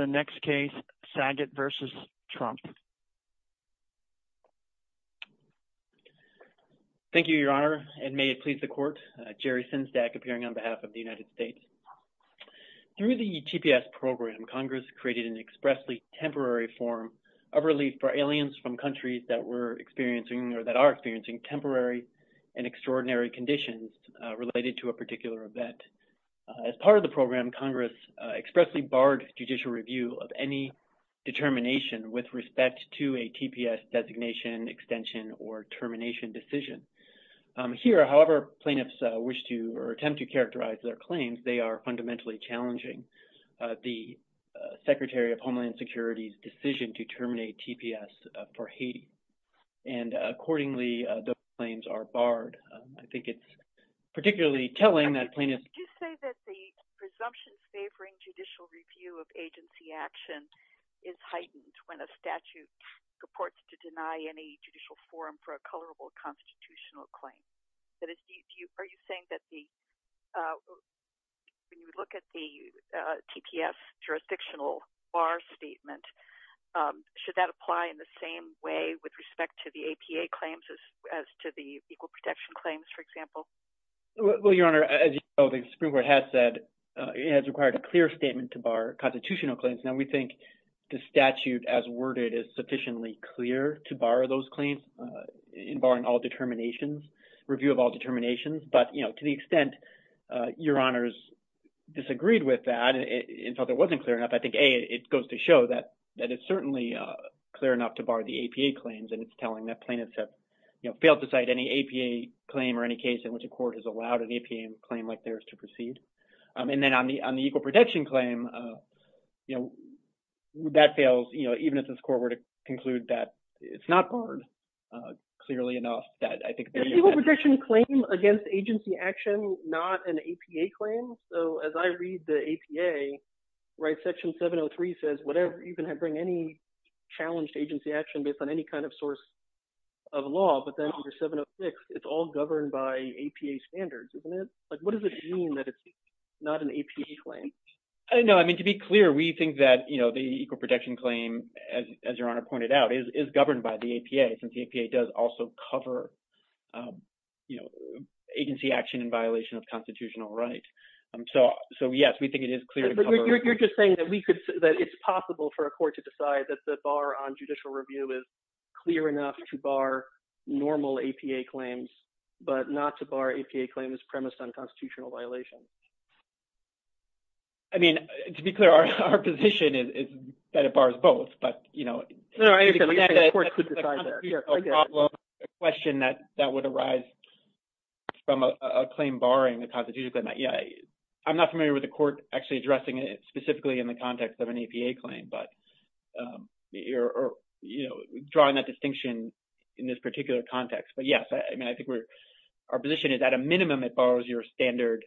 Through the TPS program, Congress created an expressly temporary form of relief for aliens from countries that are experiencing temporary and extraordinary conditions related to a particular event. As part of the program, Congress expressly barred judicial review of any determination with respect to a TPS designation, extension, or termination decision. Here, however, plaintiffs wish to or attempt to characterize their claims, they are fundamentally challenging the Secretary of Homeland Security's decision to terminate TPS for Haiti. And accordingly, those claims are barred. I think it's particularly telling that plaintiffs... Can you say that the presumptions favoring judicial review of agency action is heightened when a statute purports to deny any judicial forum for a colorable constitutional claim? That is, are you saying that the... When you look at the TPS jurisdictional bar statement, should that apply in the same way with respect to the APA claims as to the Equal Protection Claims, for example? Well, Your Honor, as you know, the Supreme Court has said it has required a clear statement to bar constitutional claims. Now, we think the statute as worded is sufficiently clear to bar those claims in barring all determinations, review of all determinations. But to the extent Your Honors disagreed with that and felt it wasn't clear enough, I think, A, it goes to show that it's certainly clear enough to bar the APA claims, and it's telling that plaintiffs have failed to cite any APA claim or any case in which a court has allowed an APA claim like theirs to proceed. And then on the Equal Protection Claim, that fails, even if this court were to conclude that it's not barred clearly enough, that I think... Is the Equal Protection Claim against agency action not an APA claim? So as I read the APA, right, Section 703 says whatever, you can bring any challenged agency action based on any kind of source of law, but then under 706, it's all governed by APA standards, isn't it? Like, what does it mean that it's not an APA claim? No, I mean, to be clear, we think that the Equal Protection Claim, as Your Honor pointed out, is governed by the APA, since the APA does also cover agency action in violation of constitutional right. So, yes, we think it is clear to cover... You're just saying that it's possible for a court to decide that the bar on judicial review is clear enough to bar normal APA claims, but not to bar APA claims premised on constitutional violations? I mean, to be clear, our position is that it bars both, but, you know... No, I understand. The court could decide that. Here, go ahead. I have a question that would arise from a claim barring the constitutional... I'm not familiar with the court actually addressing it specifically in the context of an APA claim, but you're, you know, drawing that distinction in this particular context, but, yes, I mean, I think our position is at a minimum, it bars your standard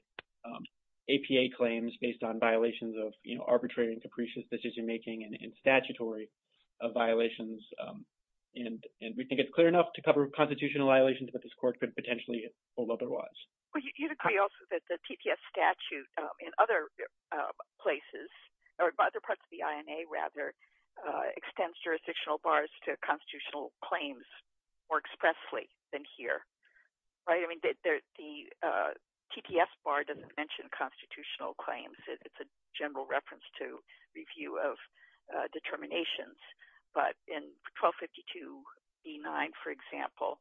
APA claims based on violations of, you know, arbitrary and capricious decision-making and statutory violations, and we think it's clear enough to cover constitutional violations, but this court could potentially hold otherwise. You'd agree also that the TTS statute in other places, or other parts of the INA, rather, extends jurisdictional bars to constitutional claims more expressly than here, right? I mean, the TTS bar doesn't mention constitutional claims, it's a general reference to review of determinations, but in 1252E9, for example,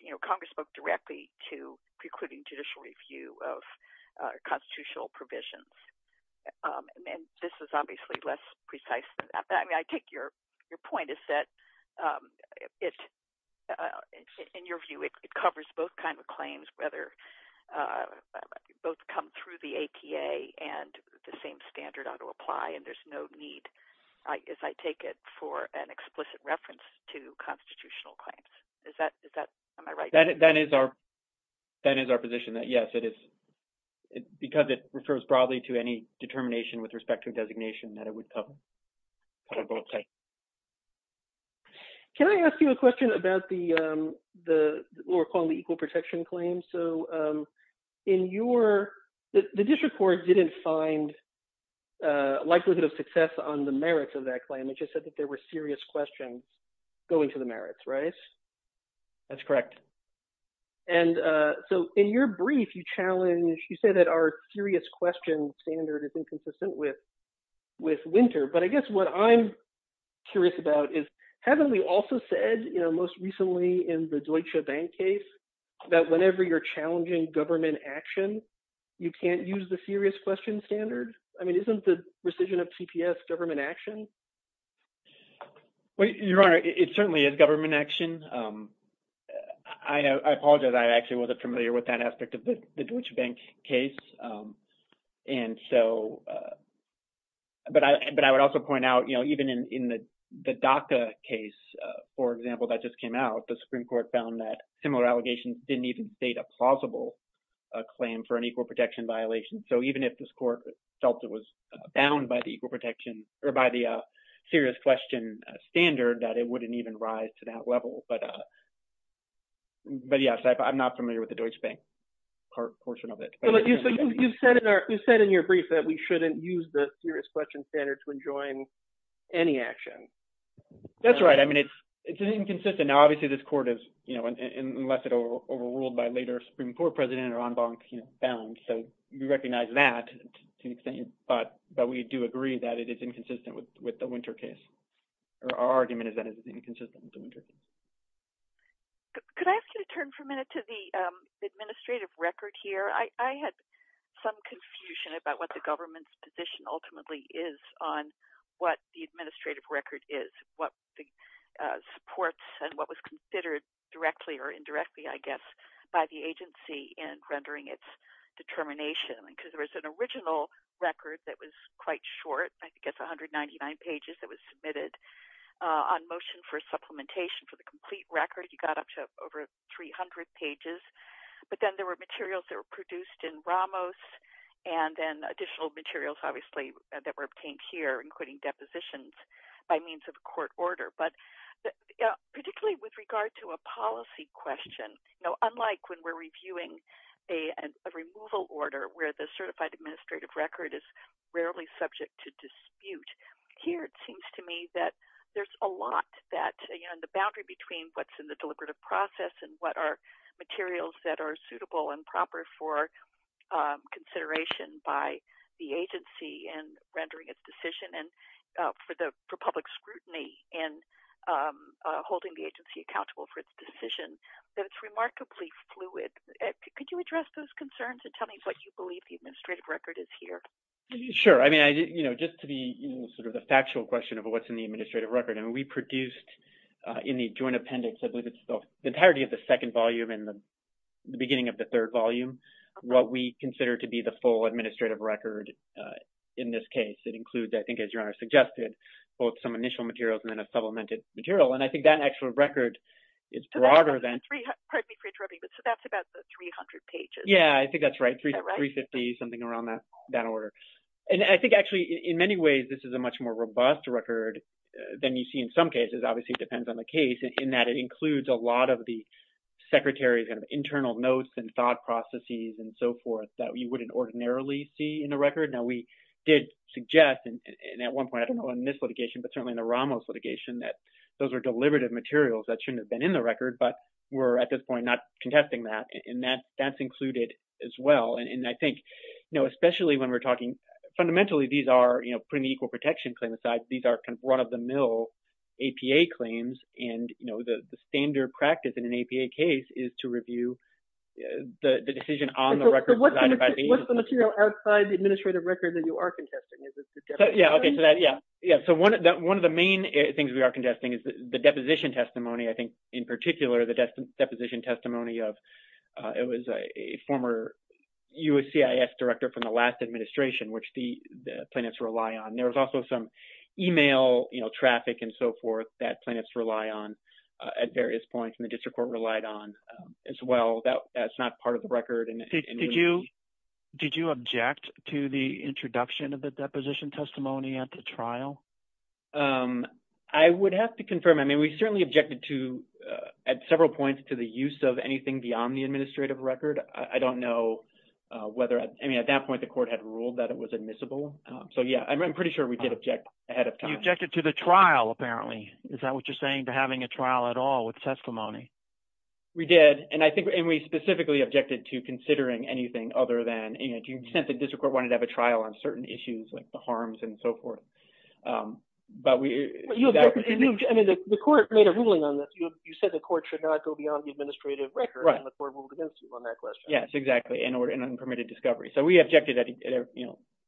you know, Congress spoke directly to precluding judicial review of constitutional provisions, and this is obviously less precise than that. I mean, I take your point is that it, in your view, it covers both kinds of claims, whether they both come through the APA and the same standard ought to apply, and there's no need, as I take it, for an explicit reference to constitutional claims. Is that, am I right? That is our position, that yes, it is, because it refers broadly to any determination with respect to designation, that it would cover both types. Can I ask you a question about the, what we're calling the equal protection claim? So, in your, the district court didn't find likelihood of success on the merits of that claim, it just said that there were serious questions going to the merits, right? That's correct. And so, in your brief, you challenge, you say that our serious questions standard is inconsistent with Winter, but I guess what I'm curious about is, haven't we also said, you know, most recently, in the Deutsche Bank case, that whenever you're challenging government action, you can't use the serious question standard? I mean, isn't the rescission of TPS government action? Your Honor, it certainly is government action. I apologize, I actually wasn't familiar with that aspect of the Deutsche Bank case. And so, but I would also point out, you know, even in the DACA case, for example, that just came out, the Supreme Court found that similar allegations didn't even state a plausible claim for an equal protection violation. So, even if this court felt it was bound by the equal protection, or by the serious question standard, that it wouldn't even rise to that level. But yes, I'm not familiar with the Deutsche Bank portion of it. You said in your brief that we shouldn't use the serious question standard to enjoin any action. That's right. I mean, it's inconsistent. Now, obviously, this court has, you know, unless it overruled by a later Supreme Court president or en banc, you know, found. So, we recognize that, but we do agree that it is inconsistent with the Winter case. Our argument is that it is inconsistent with the Winter case. Could I ask you to turn for a minute to the administrative record here? I had some confusion about what the government's position ultimately is on what the administrative record is, what the supports and what was considered directly or indirectly, I guess, by the agency in rendering its determination. Because there was an original record that was quite short, I think it's 199 pages, that was submitted on motion for supplementation for the complete record. You got up to over 300 pages. But then there were materials that were produced in Ramos, and then additional materials, obviously, that were obtained here, including depositions by means of a court order. But particularly with regard to a policy question, you know, where the certified administrative record is rarely subject to dispute. Here, it seems to me that there's a lot that, you know, the boundary between what's in the deliberative process and what are materials that are suitable and proper for consideration by the agency in rendering its decision, and for public scrutiny in holding the agency accountable for its decision, that it's remarkably fluid. Could you address those concerns and tell me what you believe the administrative record is here? Sure. I mean, you know, just to be sort of the factual question of what's in the administrative record, and we produced in the joint appendix, I believe it's the entirety of the second volume and the beginning of the third volume, what we consider to be the full administrative record in this case. It includes, I think, as Your Honor suggested, both some initial materials and then a supplemented material. And I think that actual record is broader than… Pardon me for interrupting, but that's about 300 pages. Yeah, I think that's right, 350, something around that order. And I think, actually, in many ways, this is a much more robust record than you see in some cases. Obviously, it depends on the case in that it includes a lot of the Secretary's kind of internal notes and thought processes and so forth that you wouldn't ordinarily see in the record. Now, we did suggest, and at one point, I don't know, in this litigation, but certainly in the Ramos litigation, that those were deliberative materials that shouldn't have been in the record, but we're, at this point, not contesting that. And that's included as well. And I think, you know, especially when we're talking – fundamentally, these are, you know, putting the equal protection claim aside, these are kind of run-of-the-mill APA claims, and, you know, the standard practice in an APA case is to review the decision on the record. So what's the material outside the administrative record that you are contesting? Yeah, okay, so that – yeah. So one of the main things we are contesting is the deposition testimony, I think, in particular, the deposition testimony of – it was a former USCIS director from the last administration, which the plaintiffs rely on. There was also some email, you know, traffic and so forth that plaintiffs rely on at various points, and the district court relied on as well. That's not part of the record. Did you object to the introduction of the deposition testimony at the trial? I would have to confirm. I mean, we certainly objected to – at several points to the use of anything beyond the administrative record. I don't know whether – I mean, at that point, the court had ruled that it was admissible. So, yeah, I'm pretty sure we did object ahead of time. You objected to the trial, apparently. Is that what you're saying, to having a trial at all with testimony? We did, and I think – and we specifically objected to considering anything other than – to the extent that the district court wanted to have a trial on certain issues like the harms and so forth. But we – I mean, the court made a ruling on this. You said the court should not go beyond the administrative record. Right. And the court ruled against you on that question. Yes, exactly, in unpermitted discovery. So we objected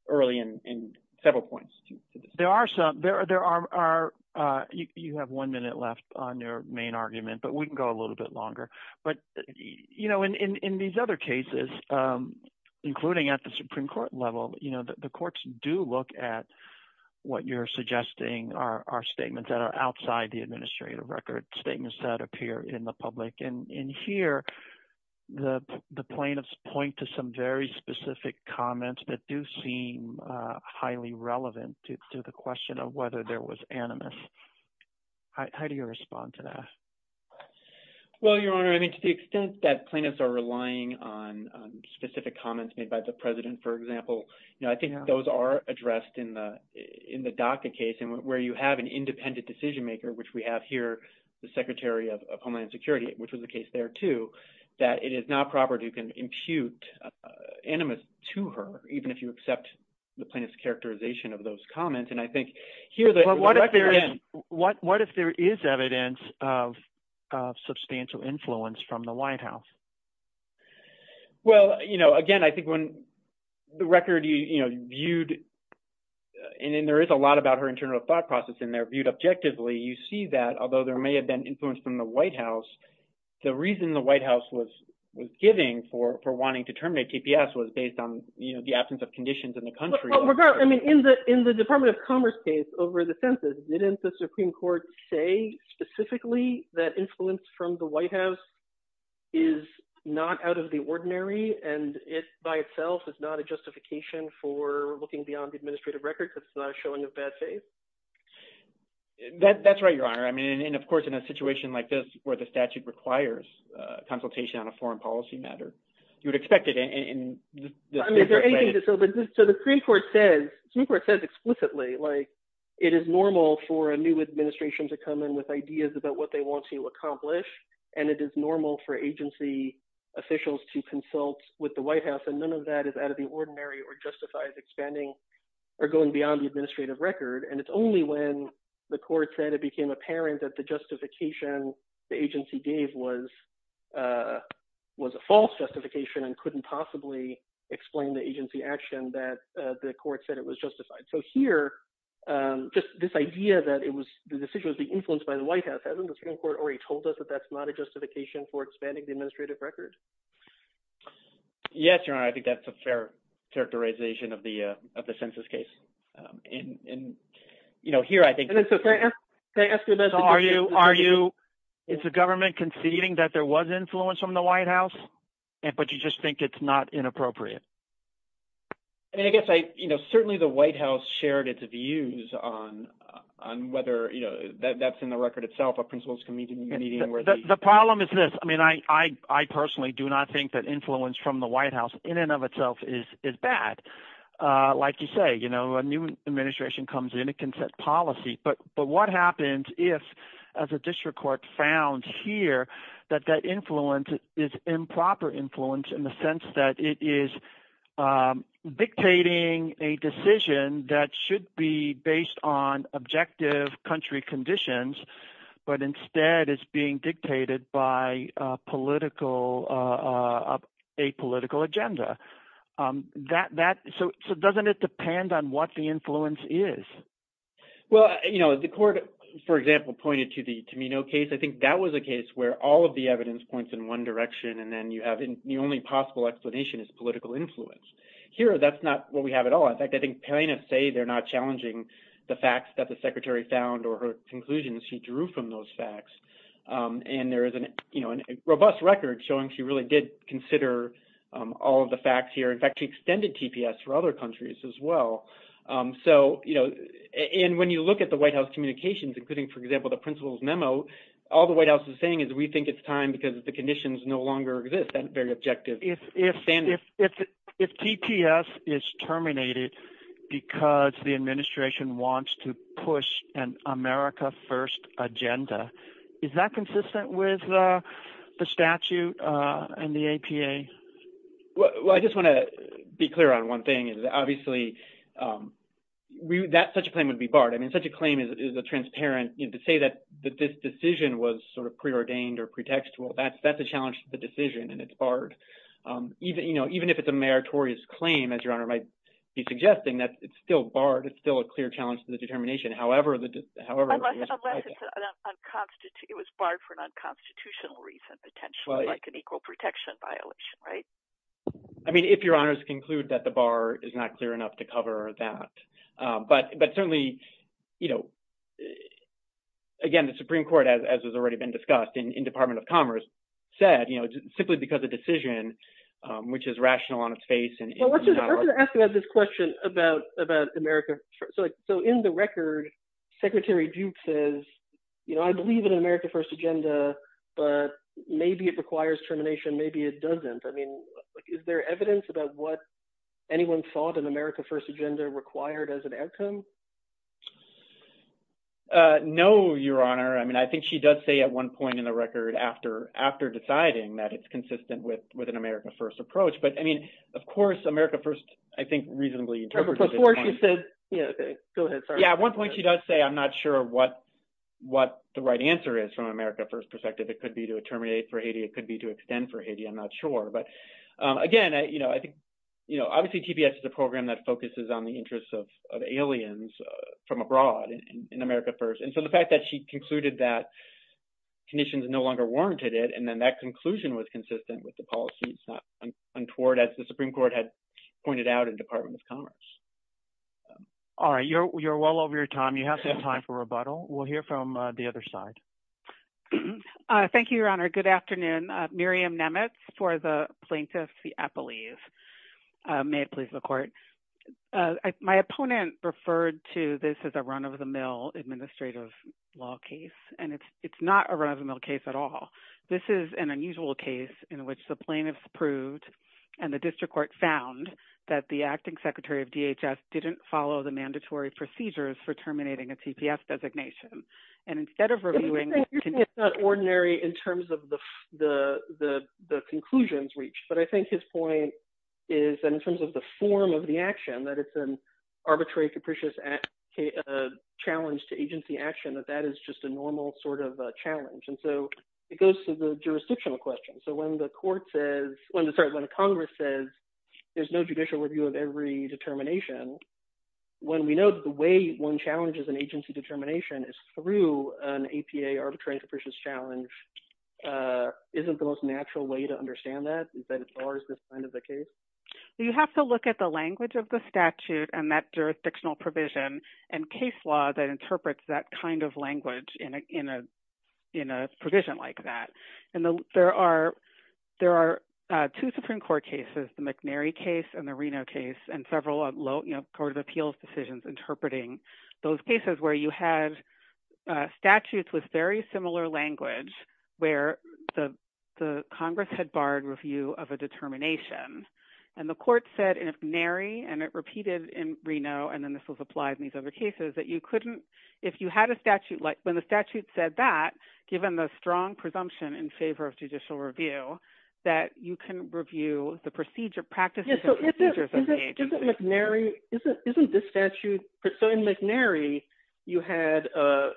early in several points. There are some – there are – you have one minute left on your main argument, but we can go a little bit longer. But in these other cases, including at the Supreme Court level, the courts do look at what you're suggesting are statements that are outside the administrative record, statements that appear in the public. And here, the plaintiffs point to some very specific comments that do seem highly relevant to the question of whether there was animus. How do you respond to that? Well, Your Honor, I mean, to the extent that plaintiffs are relying on specific comments made by the president, for example, I think those are addressed in the DACA case where you have an independent decision maker, which we have here, the Secretary of Homeland Security, which was the case there too, that it is not proper to impute animus to her, even if you accept the plaintiff's characterization of those comments. And I think here – But what if there is evidence of substantial influence from the White House? Well, again, I think when the record viewed – and there is a lot about her internal thought process in there viewed objectively. You see that, although there may have been influence from the White House, the reason the White House was giving for wanting to terminate TPS was based on the absence of conditions in the country. I mean, in the Department of Commerce case over the census, didn't the Supreme Court say specifically that influence from the White House is not out of the ordinary and it by itself is not a justification for looking beyond the administrative record because it's not a showing of bad faith? That's right, Your Honor. I mean, and of course, in a situation like this where the statute requires consultation on a foreign policy matter, you would expect it in – So the Supreme Court says explicitly it is normal for a new administration to come in with ideas about what they want to accomplish, and it is normal for agency officials to consult with the White House, and none of that is out of the ordinary or justifies expanding or going beyond the administrative record. And it's only when the court said it became apparent that the justification the agency gave was a false justification and couldn't possibly explain the agency action that the court said it was justified. So here, just this idea that it was – the decision was being influenced by the White House, hasn't the Supreme Court already told us that that's not a justification for expanding the administrative record? Yes, Your Honor. I think that's a fair characterization of the census case. And here I think – So are you – it's the government conceding that there was influence from the White House, but you just think it's not inappropriate? I mean I guess I – certainly the White House shared its views on whether that's in the record itself. The problem is this. I mean I personally do not think that influence from the White House in and of itself is bad. Like you say, a new administration comes in. It can set policy. But what happens if, as a district court found here, that that influence is improper influence in the sense that it is dictating a decision that should be based on objective country conditions, but instead is being dictated by political – a political agenda? So doesn't it depend on what the influence is? Well, the court, for example, pointed to the Tamino case. I think that was a case where all of the evidence points in one direction, and then you have the only possible explanation is political influence. Here that's not what we have at all. In fact, I think Perina say they're not challenging the facts that the Secretary found or her conclusions she drew from those facts. And there is a robust record showing she really did consider all of the facts here. In fact, she extended TPS for other countries as well. So – and when you look at the White House communications, including, for example, the principal's memo, all the White House is saying is we think it's time because the conditions no longer exist, that very objective standard. If TPS is terminated because the administration wants to push an America first agenda, is that consistent with the statute and the APA? Well, I just want to be clear on one thing. Obviously, such a claim would be barred. I mean such a claim is a transparent – to say that this decision was sort of preordained or pretextual, that's a challenge to the decision, and it's barred. Even if it's a meritorious claim, as Your Honor might be suggesting, it's still barred. Unless it was barred for an unconstitutional reason, potentially, like an equal protection violation, right? I mean, if Your Honors conclude that the bar is not clear enough to cover that. But certainly, again, the Supreme Court, as has already been discussed, and Department of Commerce said simply because the decision, which is rational on its face – I was going to ask you about this question about America. So in the record, Secretary Duke says, I believe in an America first agenda, but maybe it requires termination, maybe it doesn't. I mean is there evidence about what anyone thought an America first agenda required as an outcome? No, Your Honor. I mean I think she does say at one point in the record after deciding that it's consistent with an America first approach. But I mean, of course, America first, I think, reasonably interprets at this point. Go ahead. Yeah, at one point she does say I'm not sure what the right answer is from an America first perspective. It could be to terminate for Haiti. It could be to extend for Haiti. I'm not sure. But again, I think obviously TPS is a program that focuses on the interests of aliens from abroad in America first. And so the fact that she concluded that conditions no longer warranted it, and then that conclusion was consistent with the policy. It's not untoward as the Supreme Court had pointed out in Department of Commerce. All right. You're well over your time. You have some time for rebuttal. We'll hear from the other side. Thank you, Your Honor. Good afternoon. May it please the court. My opponent referred to this as a run-of-the-mill administrative law case. And it's not a run-of-the-mill case at all. This is an unusual case in which the plaintiffs proved and the district court found that the acting secretary of DHS didn't follow the mandatory procedures for terminating a TPS designation. It's not ordinary in terms of the conclusions reached. But I think his point is in terms of the form of the action, that it's an arbitrary, capricious challenge to agency action, that that is just a normal sort of challenge. And so it goes to the jurisdictional question. So when the court says – sorry, when Congress says there's no judicial review of every determination, when we know the way one challenges an agency determination is through an APA arbitrary, capricious challenge, isn't the most natural way to understand that? Is that as far as this kind of a case? You have to look at the language of the statute and that jurisdictional provision and case law that interprets that kind of language in a provision like that. And there are two Supreme Court cases, the McNary case and the Reno case, and several Court of Appeals decisions interpreting those cases where you had statutes with very similar language where the Congress had barred review of a determination. And the court said in McNary, and it repeated in Reno, and then this was applied in these other cases, that you couldn't – if you had a statute – when the statute said that, given the strong presumption in favor of judicial review, that you can review the procedure practices and procedures of the agency. Isn't McNary – isn't this statute – so in McNary, you had an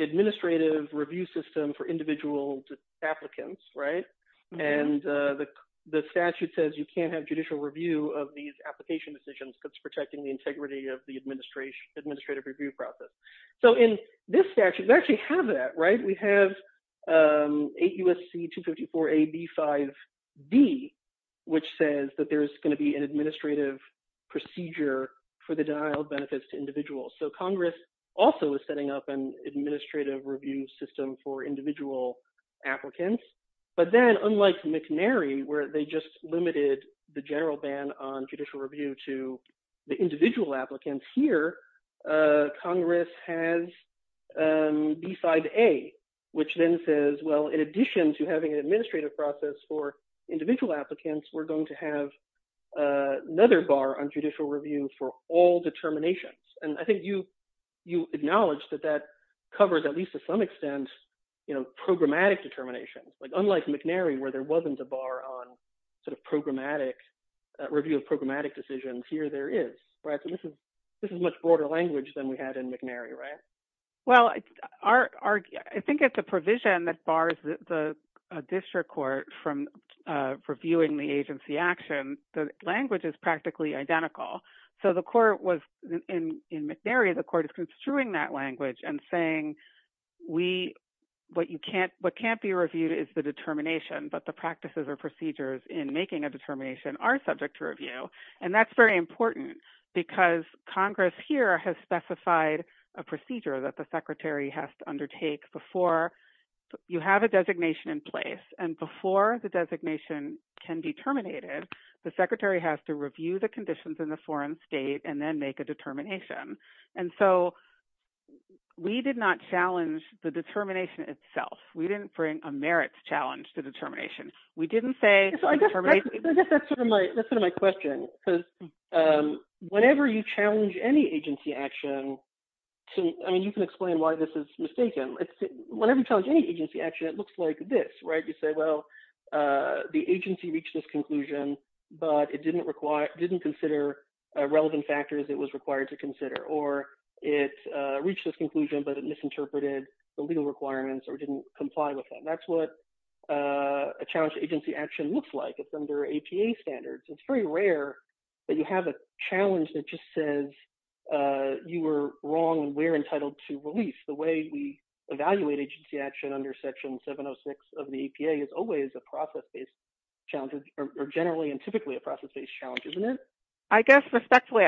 administrative review system for individual applicants, right? And the statute says you can't have judicial review of these application decisions because it's protecting the integrity of the administrative review process. So in this statute, we actually have that, right? We have 8 U.S.C. 254a.b.5b, which says that there's going to be an administrative procedure for the denial of benefits to individuals. So Congress also is setting up an administrative review system for individual applicants. But then, unlike McNary, where they just limited the general ban on judicial review to the individual applicants, here Congress has b.5a, which then says, well, in addition to having an administrative process for individual applicants, we're going to have another bar on judicial review for all determinations. And I think you acknowledged that that covers, at least to some extent, programmatic determinations. Unlike McNary, where there wasn't a bar on sort of programmatic – review of programmatic decisions, here there is, right? So this is much broader language than we had in McNary, right? Well, I think it's a provision that bars the district court from reviewing the agency action. The language is practically identical. So the court was – in McNary, the court is construing that language and saying we – what you can't – what can't be reviewed is the determination, but the practices or procedures in making a determination are subject to review. And that's very important because Congress here has specified a procedure that the secretary has to undertake before you have a designation in place. And before the designation can be terminated, the secretary has to review the conditions in the foreign state and then make a determination. And so we did not challenge the determination itself. We didn't bring a merits challenge to determination. We didn't say – So I guess that's sort of my question because whenever you challenge any agency action to – I mean, you can explain why this is mistaken. Whenever you challenge any agency action, it looks like this, right? You say, well, the agency reached this conclusion, but it didn't require – didn't consider relevant factors it was required to consider. Or it reached this conclusion, but it misinterpreted the legal requirements or didn't comply with them. So that's what a challenge to agency action looks like. It's under APA standards. It's very rare that you have a challenge that just says you were wrong and we're entitled to release. The way we evaluate agency action under Section 706 of the APA is always a process-based challenge or generally and typically a process-based challenge, isn't it? I guess respectfully,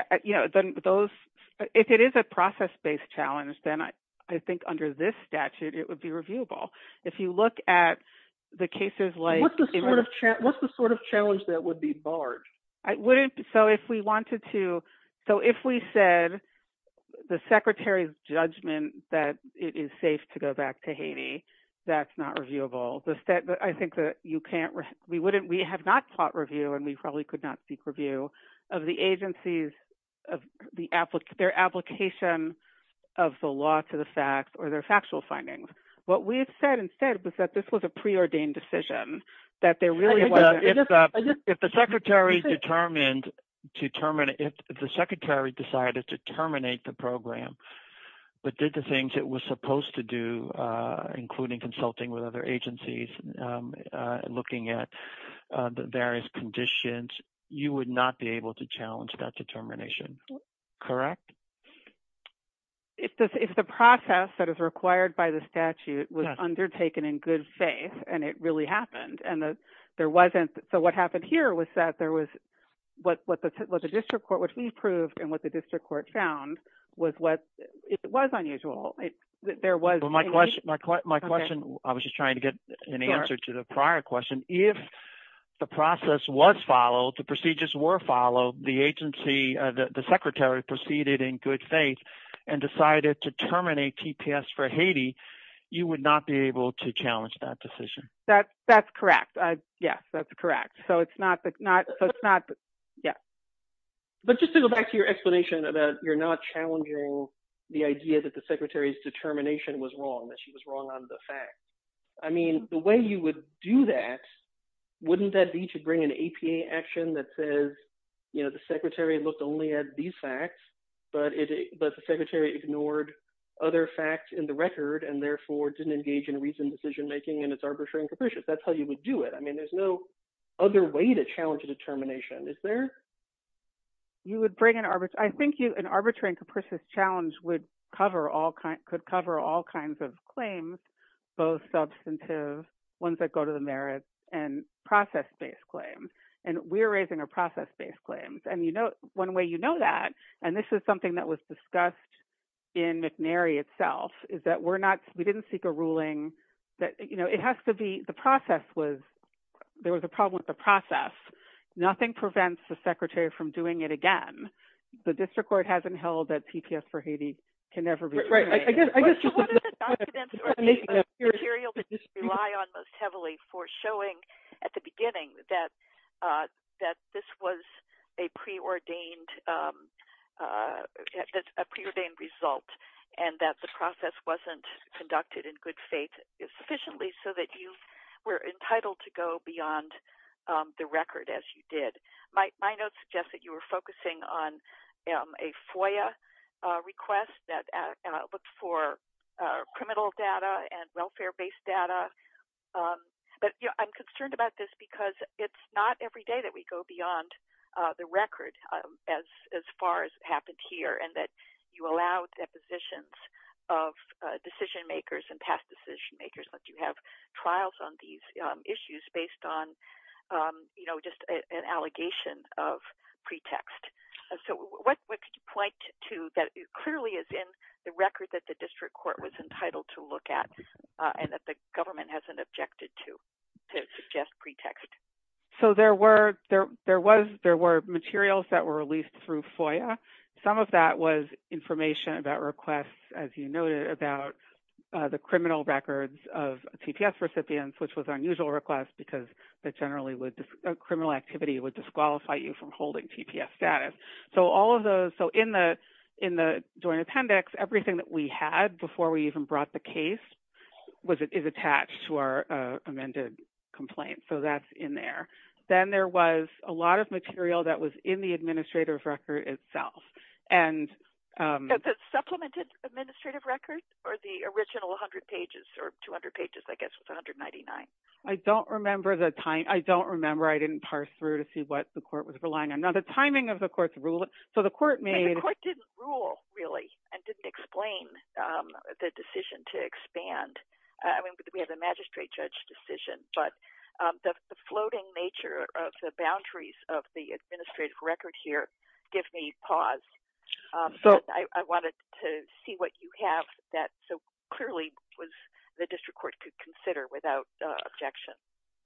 those – if it is a process-based challenge, then I think under this statute it would be reviewable. If you look at the cases like – What's the sort of challenge that would be barred? I wouldn't – so if we wanted to – so if we said the Secretary's judgment that it is safe to go back to Haiti, that's not reviewable. I think that you can't – we wouldn't – we have not taught review and we probably could not seek review of the agency's – their application of the law to the facts or their factual findings. What we have said instead was that this was a preordained decision, that there really wasn't – If the Secretary determined to – if the Secretary decided to terminate the program but did the things it was supposed to do, including consulting with other agencies, looking at the various conditions, you would not be able to challenge that determination, correct? If the process that is required by the statute was undertaken in good faith and it really happened and there wasn't – so what happened here was that there was – what the district court – what we proved and what the district court found was what – it was unusual. There was – My question – I was just trying to get an answer to the prior question. If the process was followed, the procedures were followed, the agency – the Secretary proceeded in good faith and decided to terminate TPS for Haiti, you would not be able to challenge that decision. That's correct. Yes, that's correct. So it's not – so it's not – yeah. But just to go back to your explanation about you're not challenging the idea that the Secretary's determination was wrong, that she was wrong on the facts. I mean the way you would do that, wouldn't that be to bring an APA action that says the Secretary looked only at these facts, but the Secretary ignored other facts in the record and therefore didn't engage in reasoned decision-making and it's arbitrary and capricious? That's how you would do it. I mean there's no other way to challenge a determination, is there? You would bring an – I think an arbitrary and capricious challenge would cover all – could cover all kinds of claims, both substantive, ones that go to the merits, and process-based claims. And we're raising a process-based claim. And one way you know that, and this is something that was discussed in McNary itself, is that we're not – we didn't seek a ruling that – it has to be – the process was – there was a problem with the process. Nothing prevents the Secretary from doing it again. The district court hasn't held that PPS for Haiti can never be – What is the document or material that you rely on most heavily for showing at the beginning that this was a preordained result and that the process wasn't conducted in good faith sufficiently so that you were entitled to go beyond the record as you did? My notes suggest that you were focusing on a FOIA request that looked for criminal data and welfare-based data. But I'm concerned about this because it's not every day that we go beyond the record as far as happened here and that you allow depositions of decision-makers and past decision-makers once you have trials on these issues based on just an allegation of pretext. So what could you point to that clearly is in the record that the district court was entitled to look at and that the government hasn't objected to to suggest pretext? So there were materials that were released through FOIA. Some of that was information about requests, as you noted, about the criminal records of TPS recipients, which was an unusual request because that generally would – criminal activity would disqualify you from holding TPS status. So all of those – so in the joint appendix, everything that we had before we even brought the case is attached to our amended complaint. So that's in there. Then there was a lot of material that was in the administrative record itself. The supplemented administrative record or the original 100 pages or 200 pages, I guess, was 199? I don't remember the time. I don't remember. I didn't parse through to see what the court was relying on. Now, the timing of the court's ruling – so the court made – The court didn't rule, really, and didn't explain the decision to expand. I mean, we had the magistrate judge decision, but the floating nature of the boundaries of the administrative record here gives me pause. I wanted to see what you have that so clearly the district court could consider without objection.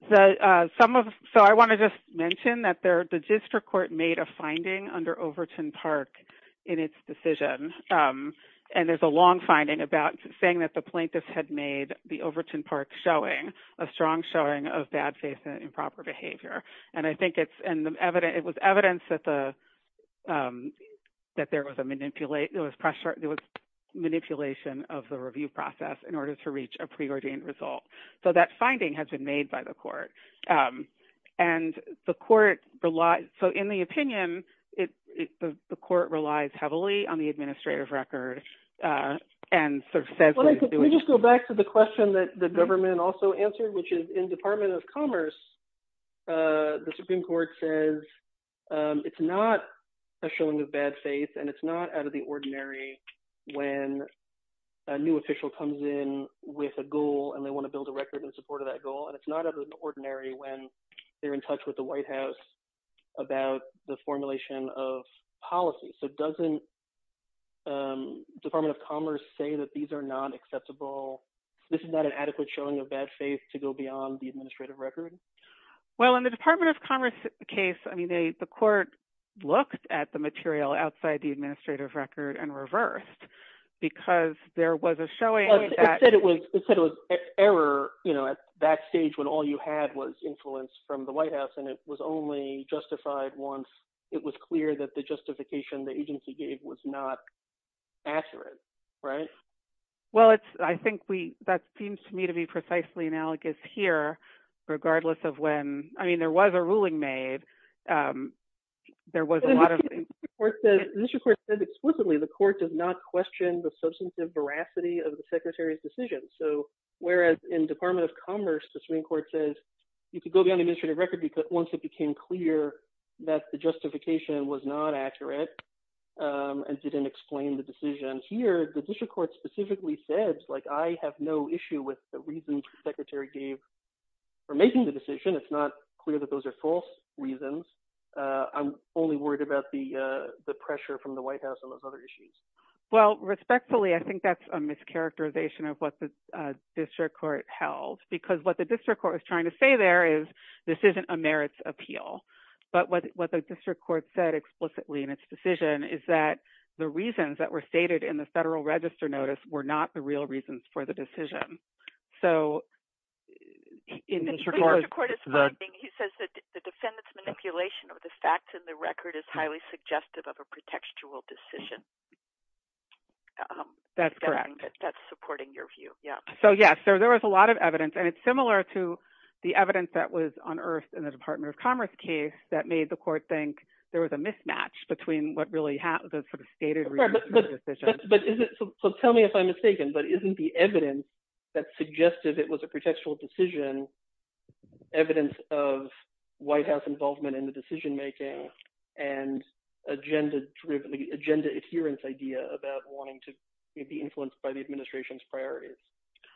So I want to just mention that the district court made a finding under Overton Park in its decision, and there's a long finding about saying that the plaintiffs had made the Overton Park showing a strong showing of bad faith and improper behavior. And I think it was evidence that there was manipulation of the review process in order to reach a preordained result. So that finding has been made by the court. And the court – so in the opinion, the court relies heavily on the administrative record and sort of says what it's doing. So going back to the question that the government also answered, which is in Department of Commerce, the Supreme Court says it's not a showing of bad faith and it's not out of the ordinary when a new official comes in with a goal and they want to build a record in support of that goal. And it's not out of the ordinary when they're in touch with the White House about the formulation of policy. So doesn't Department of Commerce say that these are not acceptable – this is not an adequate showing of bad faith to go beyond the administrative record? Well, in the Department of Commerce case, I mean, the court looked at the material outside the administrative record and reversed because there was a showing that – It said it was error at that stage when all you had was influence from the White House, and it was only justified once it was clear that the justification the agency gave was not accurate, right? Well, it's – I think we – that seems to me to be precisely analogous here regardless of when – I mean, there was a ruling made. There was a lot of – The district court said explicitly the court does not question the substantive veracity of the secretary's decision. So whereas in Department of Commerce, the Supreme Court says you could go beyond the administrative record once it became clear that the justification was not accurate and didn't explain the decision. And here, the district court specifically said, like, I have no issue with the reasons the secretary gave for making the decision. It's not clear that those are false reasons. I'm only worried about the pressure from the White House on those other issues. Well, respectfully, I think that's a mischaracterization of what the district court held because what the district court is trying to say there is this isn't a merits appeal. But what the district court said explicitly in its decision is that the reasons that were stated in the Federal Register notice were not the real reasons for the decision. So in this – The district court is finding – he says that the defendant's manipulation of the facts in the record is highly suggestive of a pretextual decision. That's correct. That's supporting your view. Yeah. So yes, there was a lot of evidence, and it's similar to the evidence that was unearthed in the Department of Commerce case that made the court think there was a mismatch between what really – the sort of stated reasons for the decision. But is it – so tell me if I'm mistaken, but isn't the evidence that suggested it was a pretextual decision evidence of White House involvement in the decision-making and agenda-driven – agenda adherence idea about wanting to be influenced by the administration's priorities?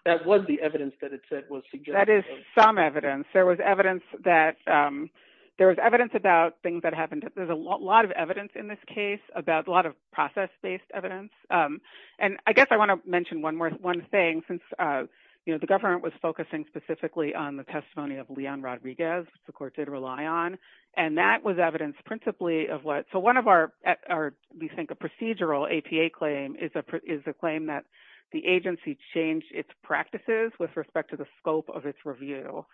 That was the evidence that it said was suggestive. Some evidence. There was evidence that – there was evidence about things that happened – there's a lot of evidence in this case about a lot of process-based evidence. And I guess I want to mention one more – one thing, since the government was focusing specifically on the testimony of Leon Rodriguez, which the court did rely on, and that was evidence principally of what – so one of our – we think a procedural APA claim is a claim that the agency changed its practices with respect to the scope of its review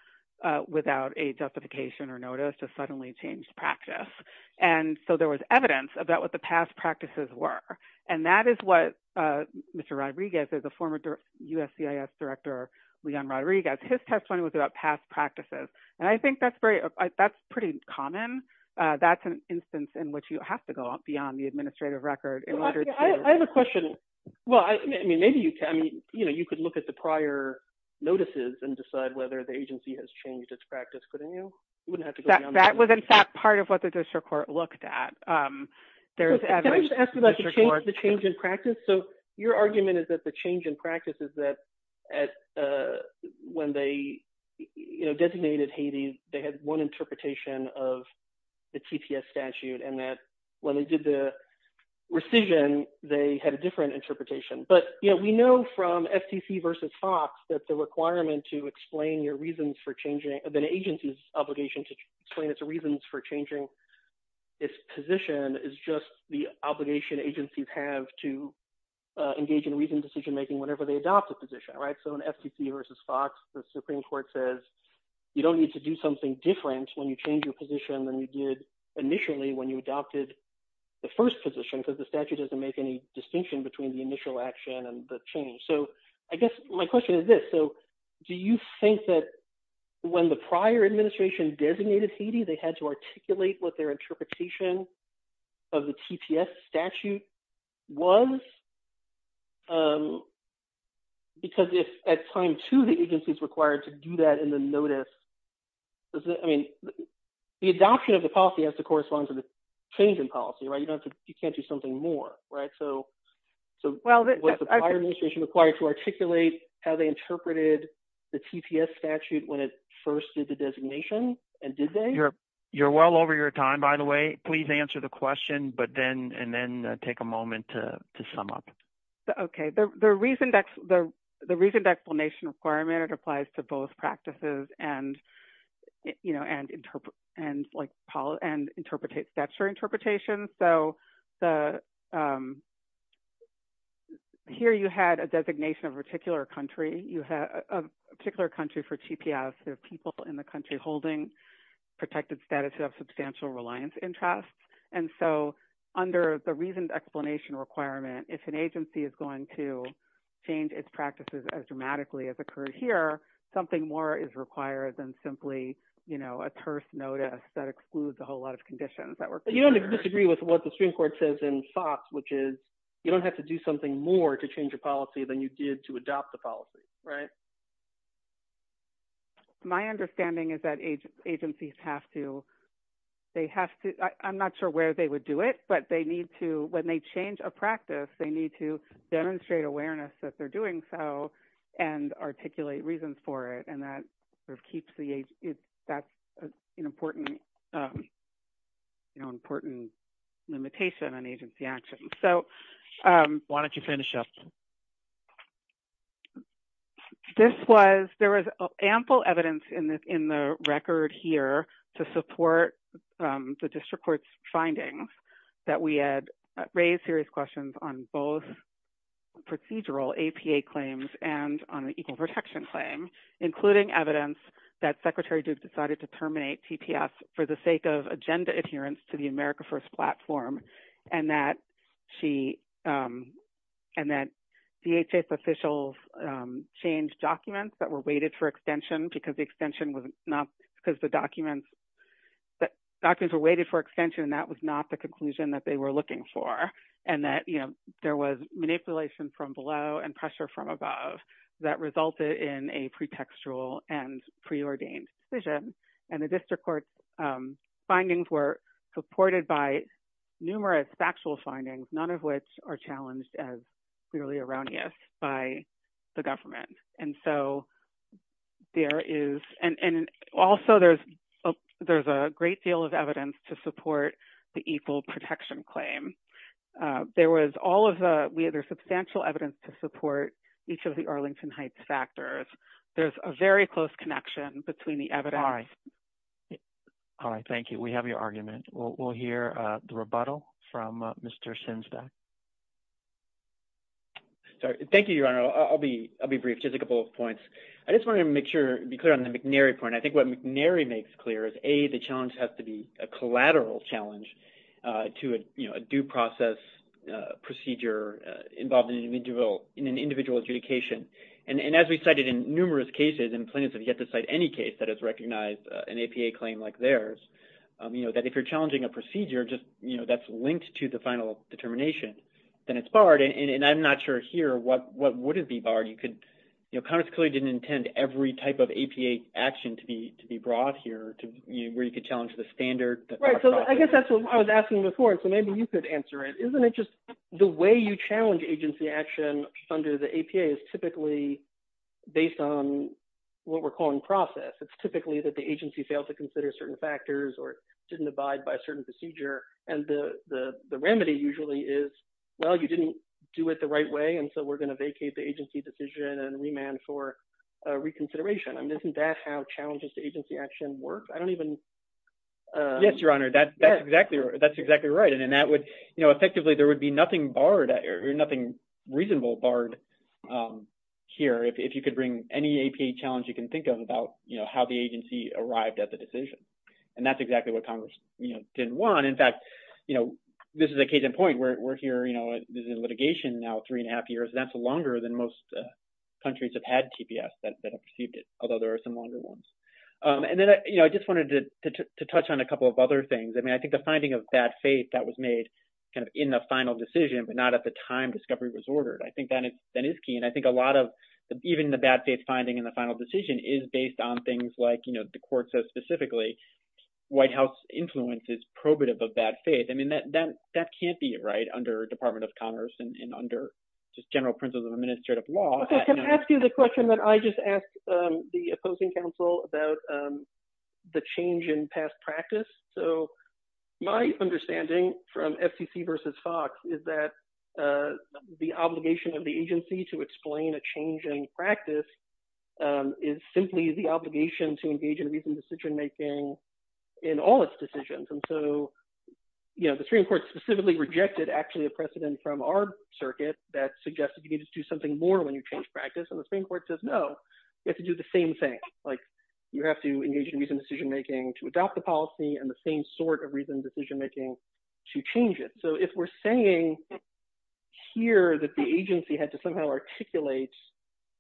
without a justification or notice to suddenly change practice. And so there was evidence about what the past practices were. And that is what Mr. Rodriguez, as a former USCIS director, Leon Rodriguez, his testimony was about past practices. And I think that's very – that's pretty common. That's an instance in which you have to go beyond the administrative record in order to – Can I just ask about the change in practice? So your argument is that the change in practice is that at – when they designated Haiti, they had one interpretation of the TPS statute and that when they did the rescission, they had a different interpretation. But we know from FTC v. Fox that the requirement to explain your reasons for changing – the agency's obligation to explain its reasons for changing its position is just the obligation agencies have to engage in reasoned decision-making whenever they adopt a position. So in FTC v. Fox, the Supreme Court says you don't need to do something different when you change your position than you did initially when you adopted the first position because the statute doesn't make any distinction between the initial action and the change. So I guess my question is this. So do you think that when the prior administration designated Haiti, they had to articulate what their interpretation of the TPS statute was? Because if at time two the agency is required to do that in the notice, does it – I mean the adoption of the policy has to correspond to the change in policy. You can't do something more. So was the prior administration required to articulate how they interpreted the TPS statute when it first did the designation, and did they? You're well over your time, by the way. Please answer the question and then take a moment to sum up. Okay. The reasoned explanation requirement, it applies to both practices and, you know, and interpret – and like – and interpret – statutory interpretations. So the – here you had a designation of a particular country. You had a particular country for TPS. There are people in the country holding protected status who have substantial reliance interests. And so under the reasoned explanation requirement, if an agency is going to change its practices as dramatically as occurred here, something more is required than simply a terse notice that excludes a whole lot of conditions that were – But you don't disagree with what the Supreme Court says in Fox, which is you don't have to do something more to change a policy than you did to adopt the policy, right? My understanding is that agencies have to – they have to – I'm not sure where they would do it, but they need to – when they change a practice, they need to demonstrate awareness that they're doing so and articulate reasons for it. And that sort of keeps the – that's an important, you know, important limitation on agency action. So – Why don't you finish up? This was – there was ample evidence in the record here to support the district court's findings that we had raised serious questions on both procedural APA claims and on the equal protection claim, including evidence that Secretary Duke decided to terminate TPS for the sake of agenda adherence to the America First platform and that she – and that DHS officials changed documents that were waited for extension because the extension was not – because the documents – documents were waited for extension and that was not the conclusion that they were looking for and that, you know, there was manipulation from below and pressure from above that resulted in a pretextual and preordained decision. And the district court's findings were supported by numerous factual findings, none of which are challenged as clearly erroneous by the government. And so there is – and also there's a great deal of evidence to support the equal protection claim. There was all of the – there's substantial evidence to support each of the Arlington Heights factors. There's a very close connection between the evidence – All right. All right, thank you. We have your argument. We'll hear the rebuttal from Mr. Shinsbeck. Thank you, Your Honor. I'll be brief, just a couple of points. I just wanted to make sure – be clear on the McNary point. I think what McNary makes clear is, A, the challenge has to be a collateral challenge to a due process procedure involving individual – in an individual adjudication. And as we cited in numerous cases and plaintiffs have yet to cite any case that has recognized an APA claim like theirs, you know, that if you're challenging a procedure just, you know, that's linked to the final determination, then it's barred. And I'm not sure here what would be barred. You could – you know, Congress clearly didn't intend every type of APA action to be brought here where you could challenge the standard. Right, so I guess that's what I was asking before, so maybe you could answer it. Isn't it just – the way you challenge agency action under the APA is typically based on what we're calling process. It's typically that the agency failed to consider certain factors or didn't abide by a certain procedure, and the remedy usually is, well, you didn't do it the right way, and so we're going to vacate the agency decision and remand for reconsideration. I mean, isn't that how challenges to agency action work? I don't even – Yes, Your Honor, that's exactly – that's exactly right. And that would – you know, effectively, there would be nothing barred or nothing reasonable barred here if you could bring any APA challenge you can think of about, you know, how the agency arrived at the decision. And that's exactly what Congress, you know, didn't want. In fact, you know, this is a case in point where we're here, you know, in litigation now three and a half years, and that's longer than most countries have had TPS that have received it, although there are some longer ones. And then, you know, I just wanted to touch on a couple of other things. I mean, I think the finding of bad faith that was made kind of in the final decision but not at the time discovery was ordered. I think that is key, and I think a lot of – even the bad faith finding in the final decision is based on things like, you know, the court says specifically White House influence is probative of bad faith. I mean, that can't be right under Department of Commerce and under just general principles of administrative law. Okay. Can I ask you the question that I just asked the opposing counsel about the change in past practice? So my understanding from FCC versus Fox is that the obligation of the agency to explain a change in practice is simply the obligation to engage in reasoned decision making in all its decisions. And so, you know, the Supreme Court specifically rejected actually a precedent from our circuit that suggested you need to do something more when you change practice, and the Supreme Court says no, you have to do the same thing. Like you have to engage in reasoned decision making to adopt the policy and the same sort of reasoned decision making to change it. So if we're saying here that the agency had to somehow articulate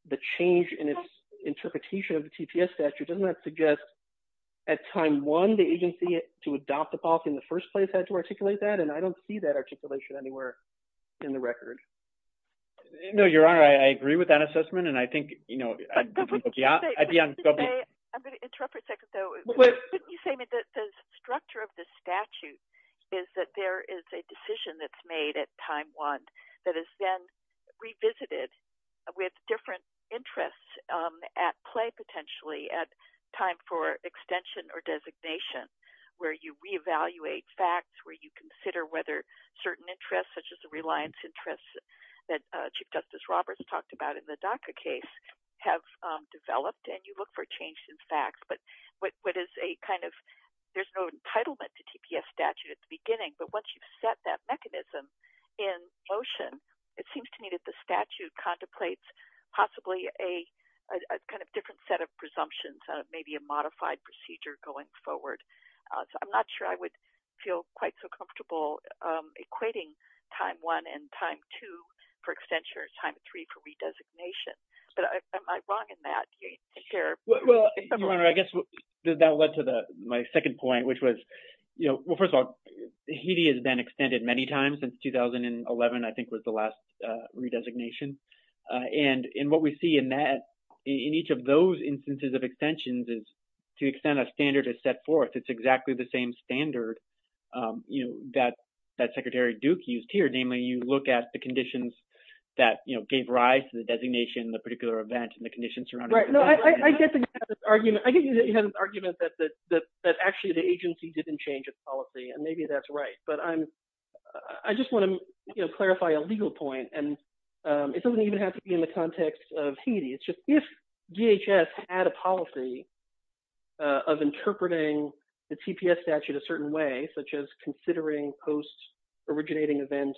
the change in its interpretation of the TPS statute, doesn't that suggest at time one the agency to adopt the policy in the first place had to articulate that? And I don't see that articulation anywhere in the record. No, Your Honor, I agree with that assessment, and I think, you know, I'd be uncomfortable. I'm going to interrupt for a second, though. Couldn't you say that the structure of the statute is that there is a decision that's made at time one that is then revisited with different interests at play, potentially, at time for extension or designation, where you reevaluate facts, where you consider whether certain interests, such as the reliance interests that Chief Justice Roberts talked about in the DACA case, have developed, and you look for change in facts, but what is a kind of – there's no entitlement to TPS statute at the beginning, but once you've set that mechanism in motion, it seems to me that the statute contemplates possibly a kind of different set of presumptions, maybe a modified procedure going forward. So I'm not sure I would feel quite so comfortable equating time one and time two for extension or time three for redesignation, but am I wrong in that here? Well, Your Honor, I guess that led to my second point, which was, you know – well, first of all, HEDI has been extended many times since 2011, I think, was the last redesignation. And what we see in that – in each of those instances of extensions is to extend a standard is set forth. It's exactly the same standard, you know, that Secretary Duke used here, namely you look at the conditions that, you know, gave rise to the designation, the particular event, and the conditions surrounding it. All right. No, I get the argument. I get the argument that actually the agency didn't change its policy, and maybe that's right. But I'm – I just want to, you know, clarify a legal point, and it doesn't even have to be in the context of HEDI. It's just if DHS had a policy of interpreting the TPS statute a certain way, such as considering post-originating event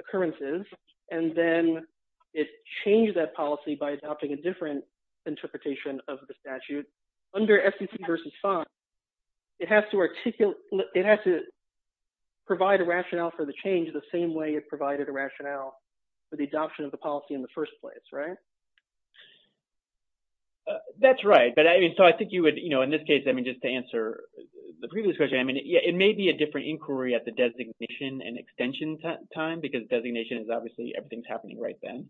occurrences, and then it changed that policy by adopting a different interpretation of the statute, under SEC v. 5, it has to articulate – it has to provide a rationale for the change the same way it provided a rationale for the adoption of the policy in the first place, right? That's right. But I mean, so I think you would – you know, in this case, I mean, just to answer the previous question, I mean, it may be a different inquiry at the designation and extension time because designation is obviously – everything's happening right then.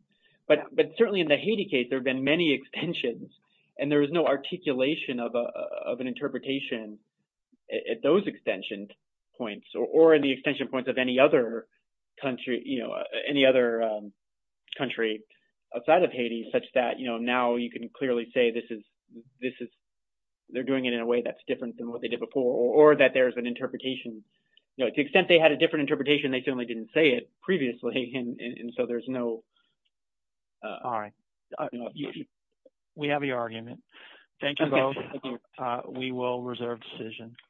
But certainly in the HEDI case, there have been many extensions, and there is no articulation of an interpretation at those extension points or in the extension points of any other country – you know, any other country outside of HEDI such that, you know, now you can clearly say this is – this is – they're doing it in a way that's different than what they did before or that there's an interpretation. You know, to the extent they had a different interpretation, they certainly didn't say it previously, and so there's no – All right. We have the argument. Thank you both. We will reserve decision.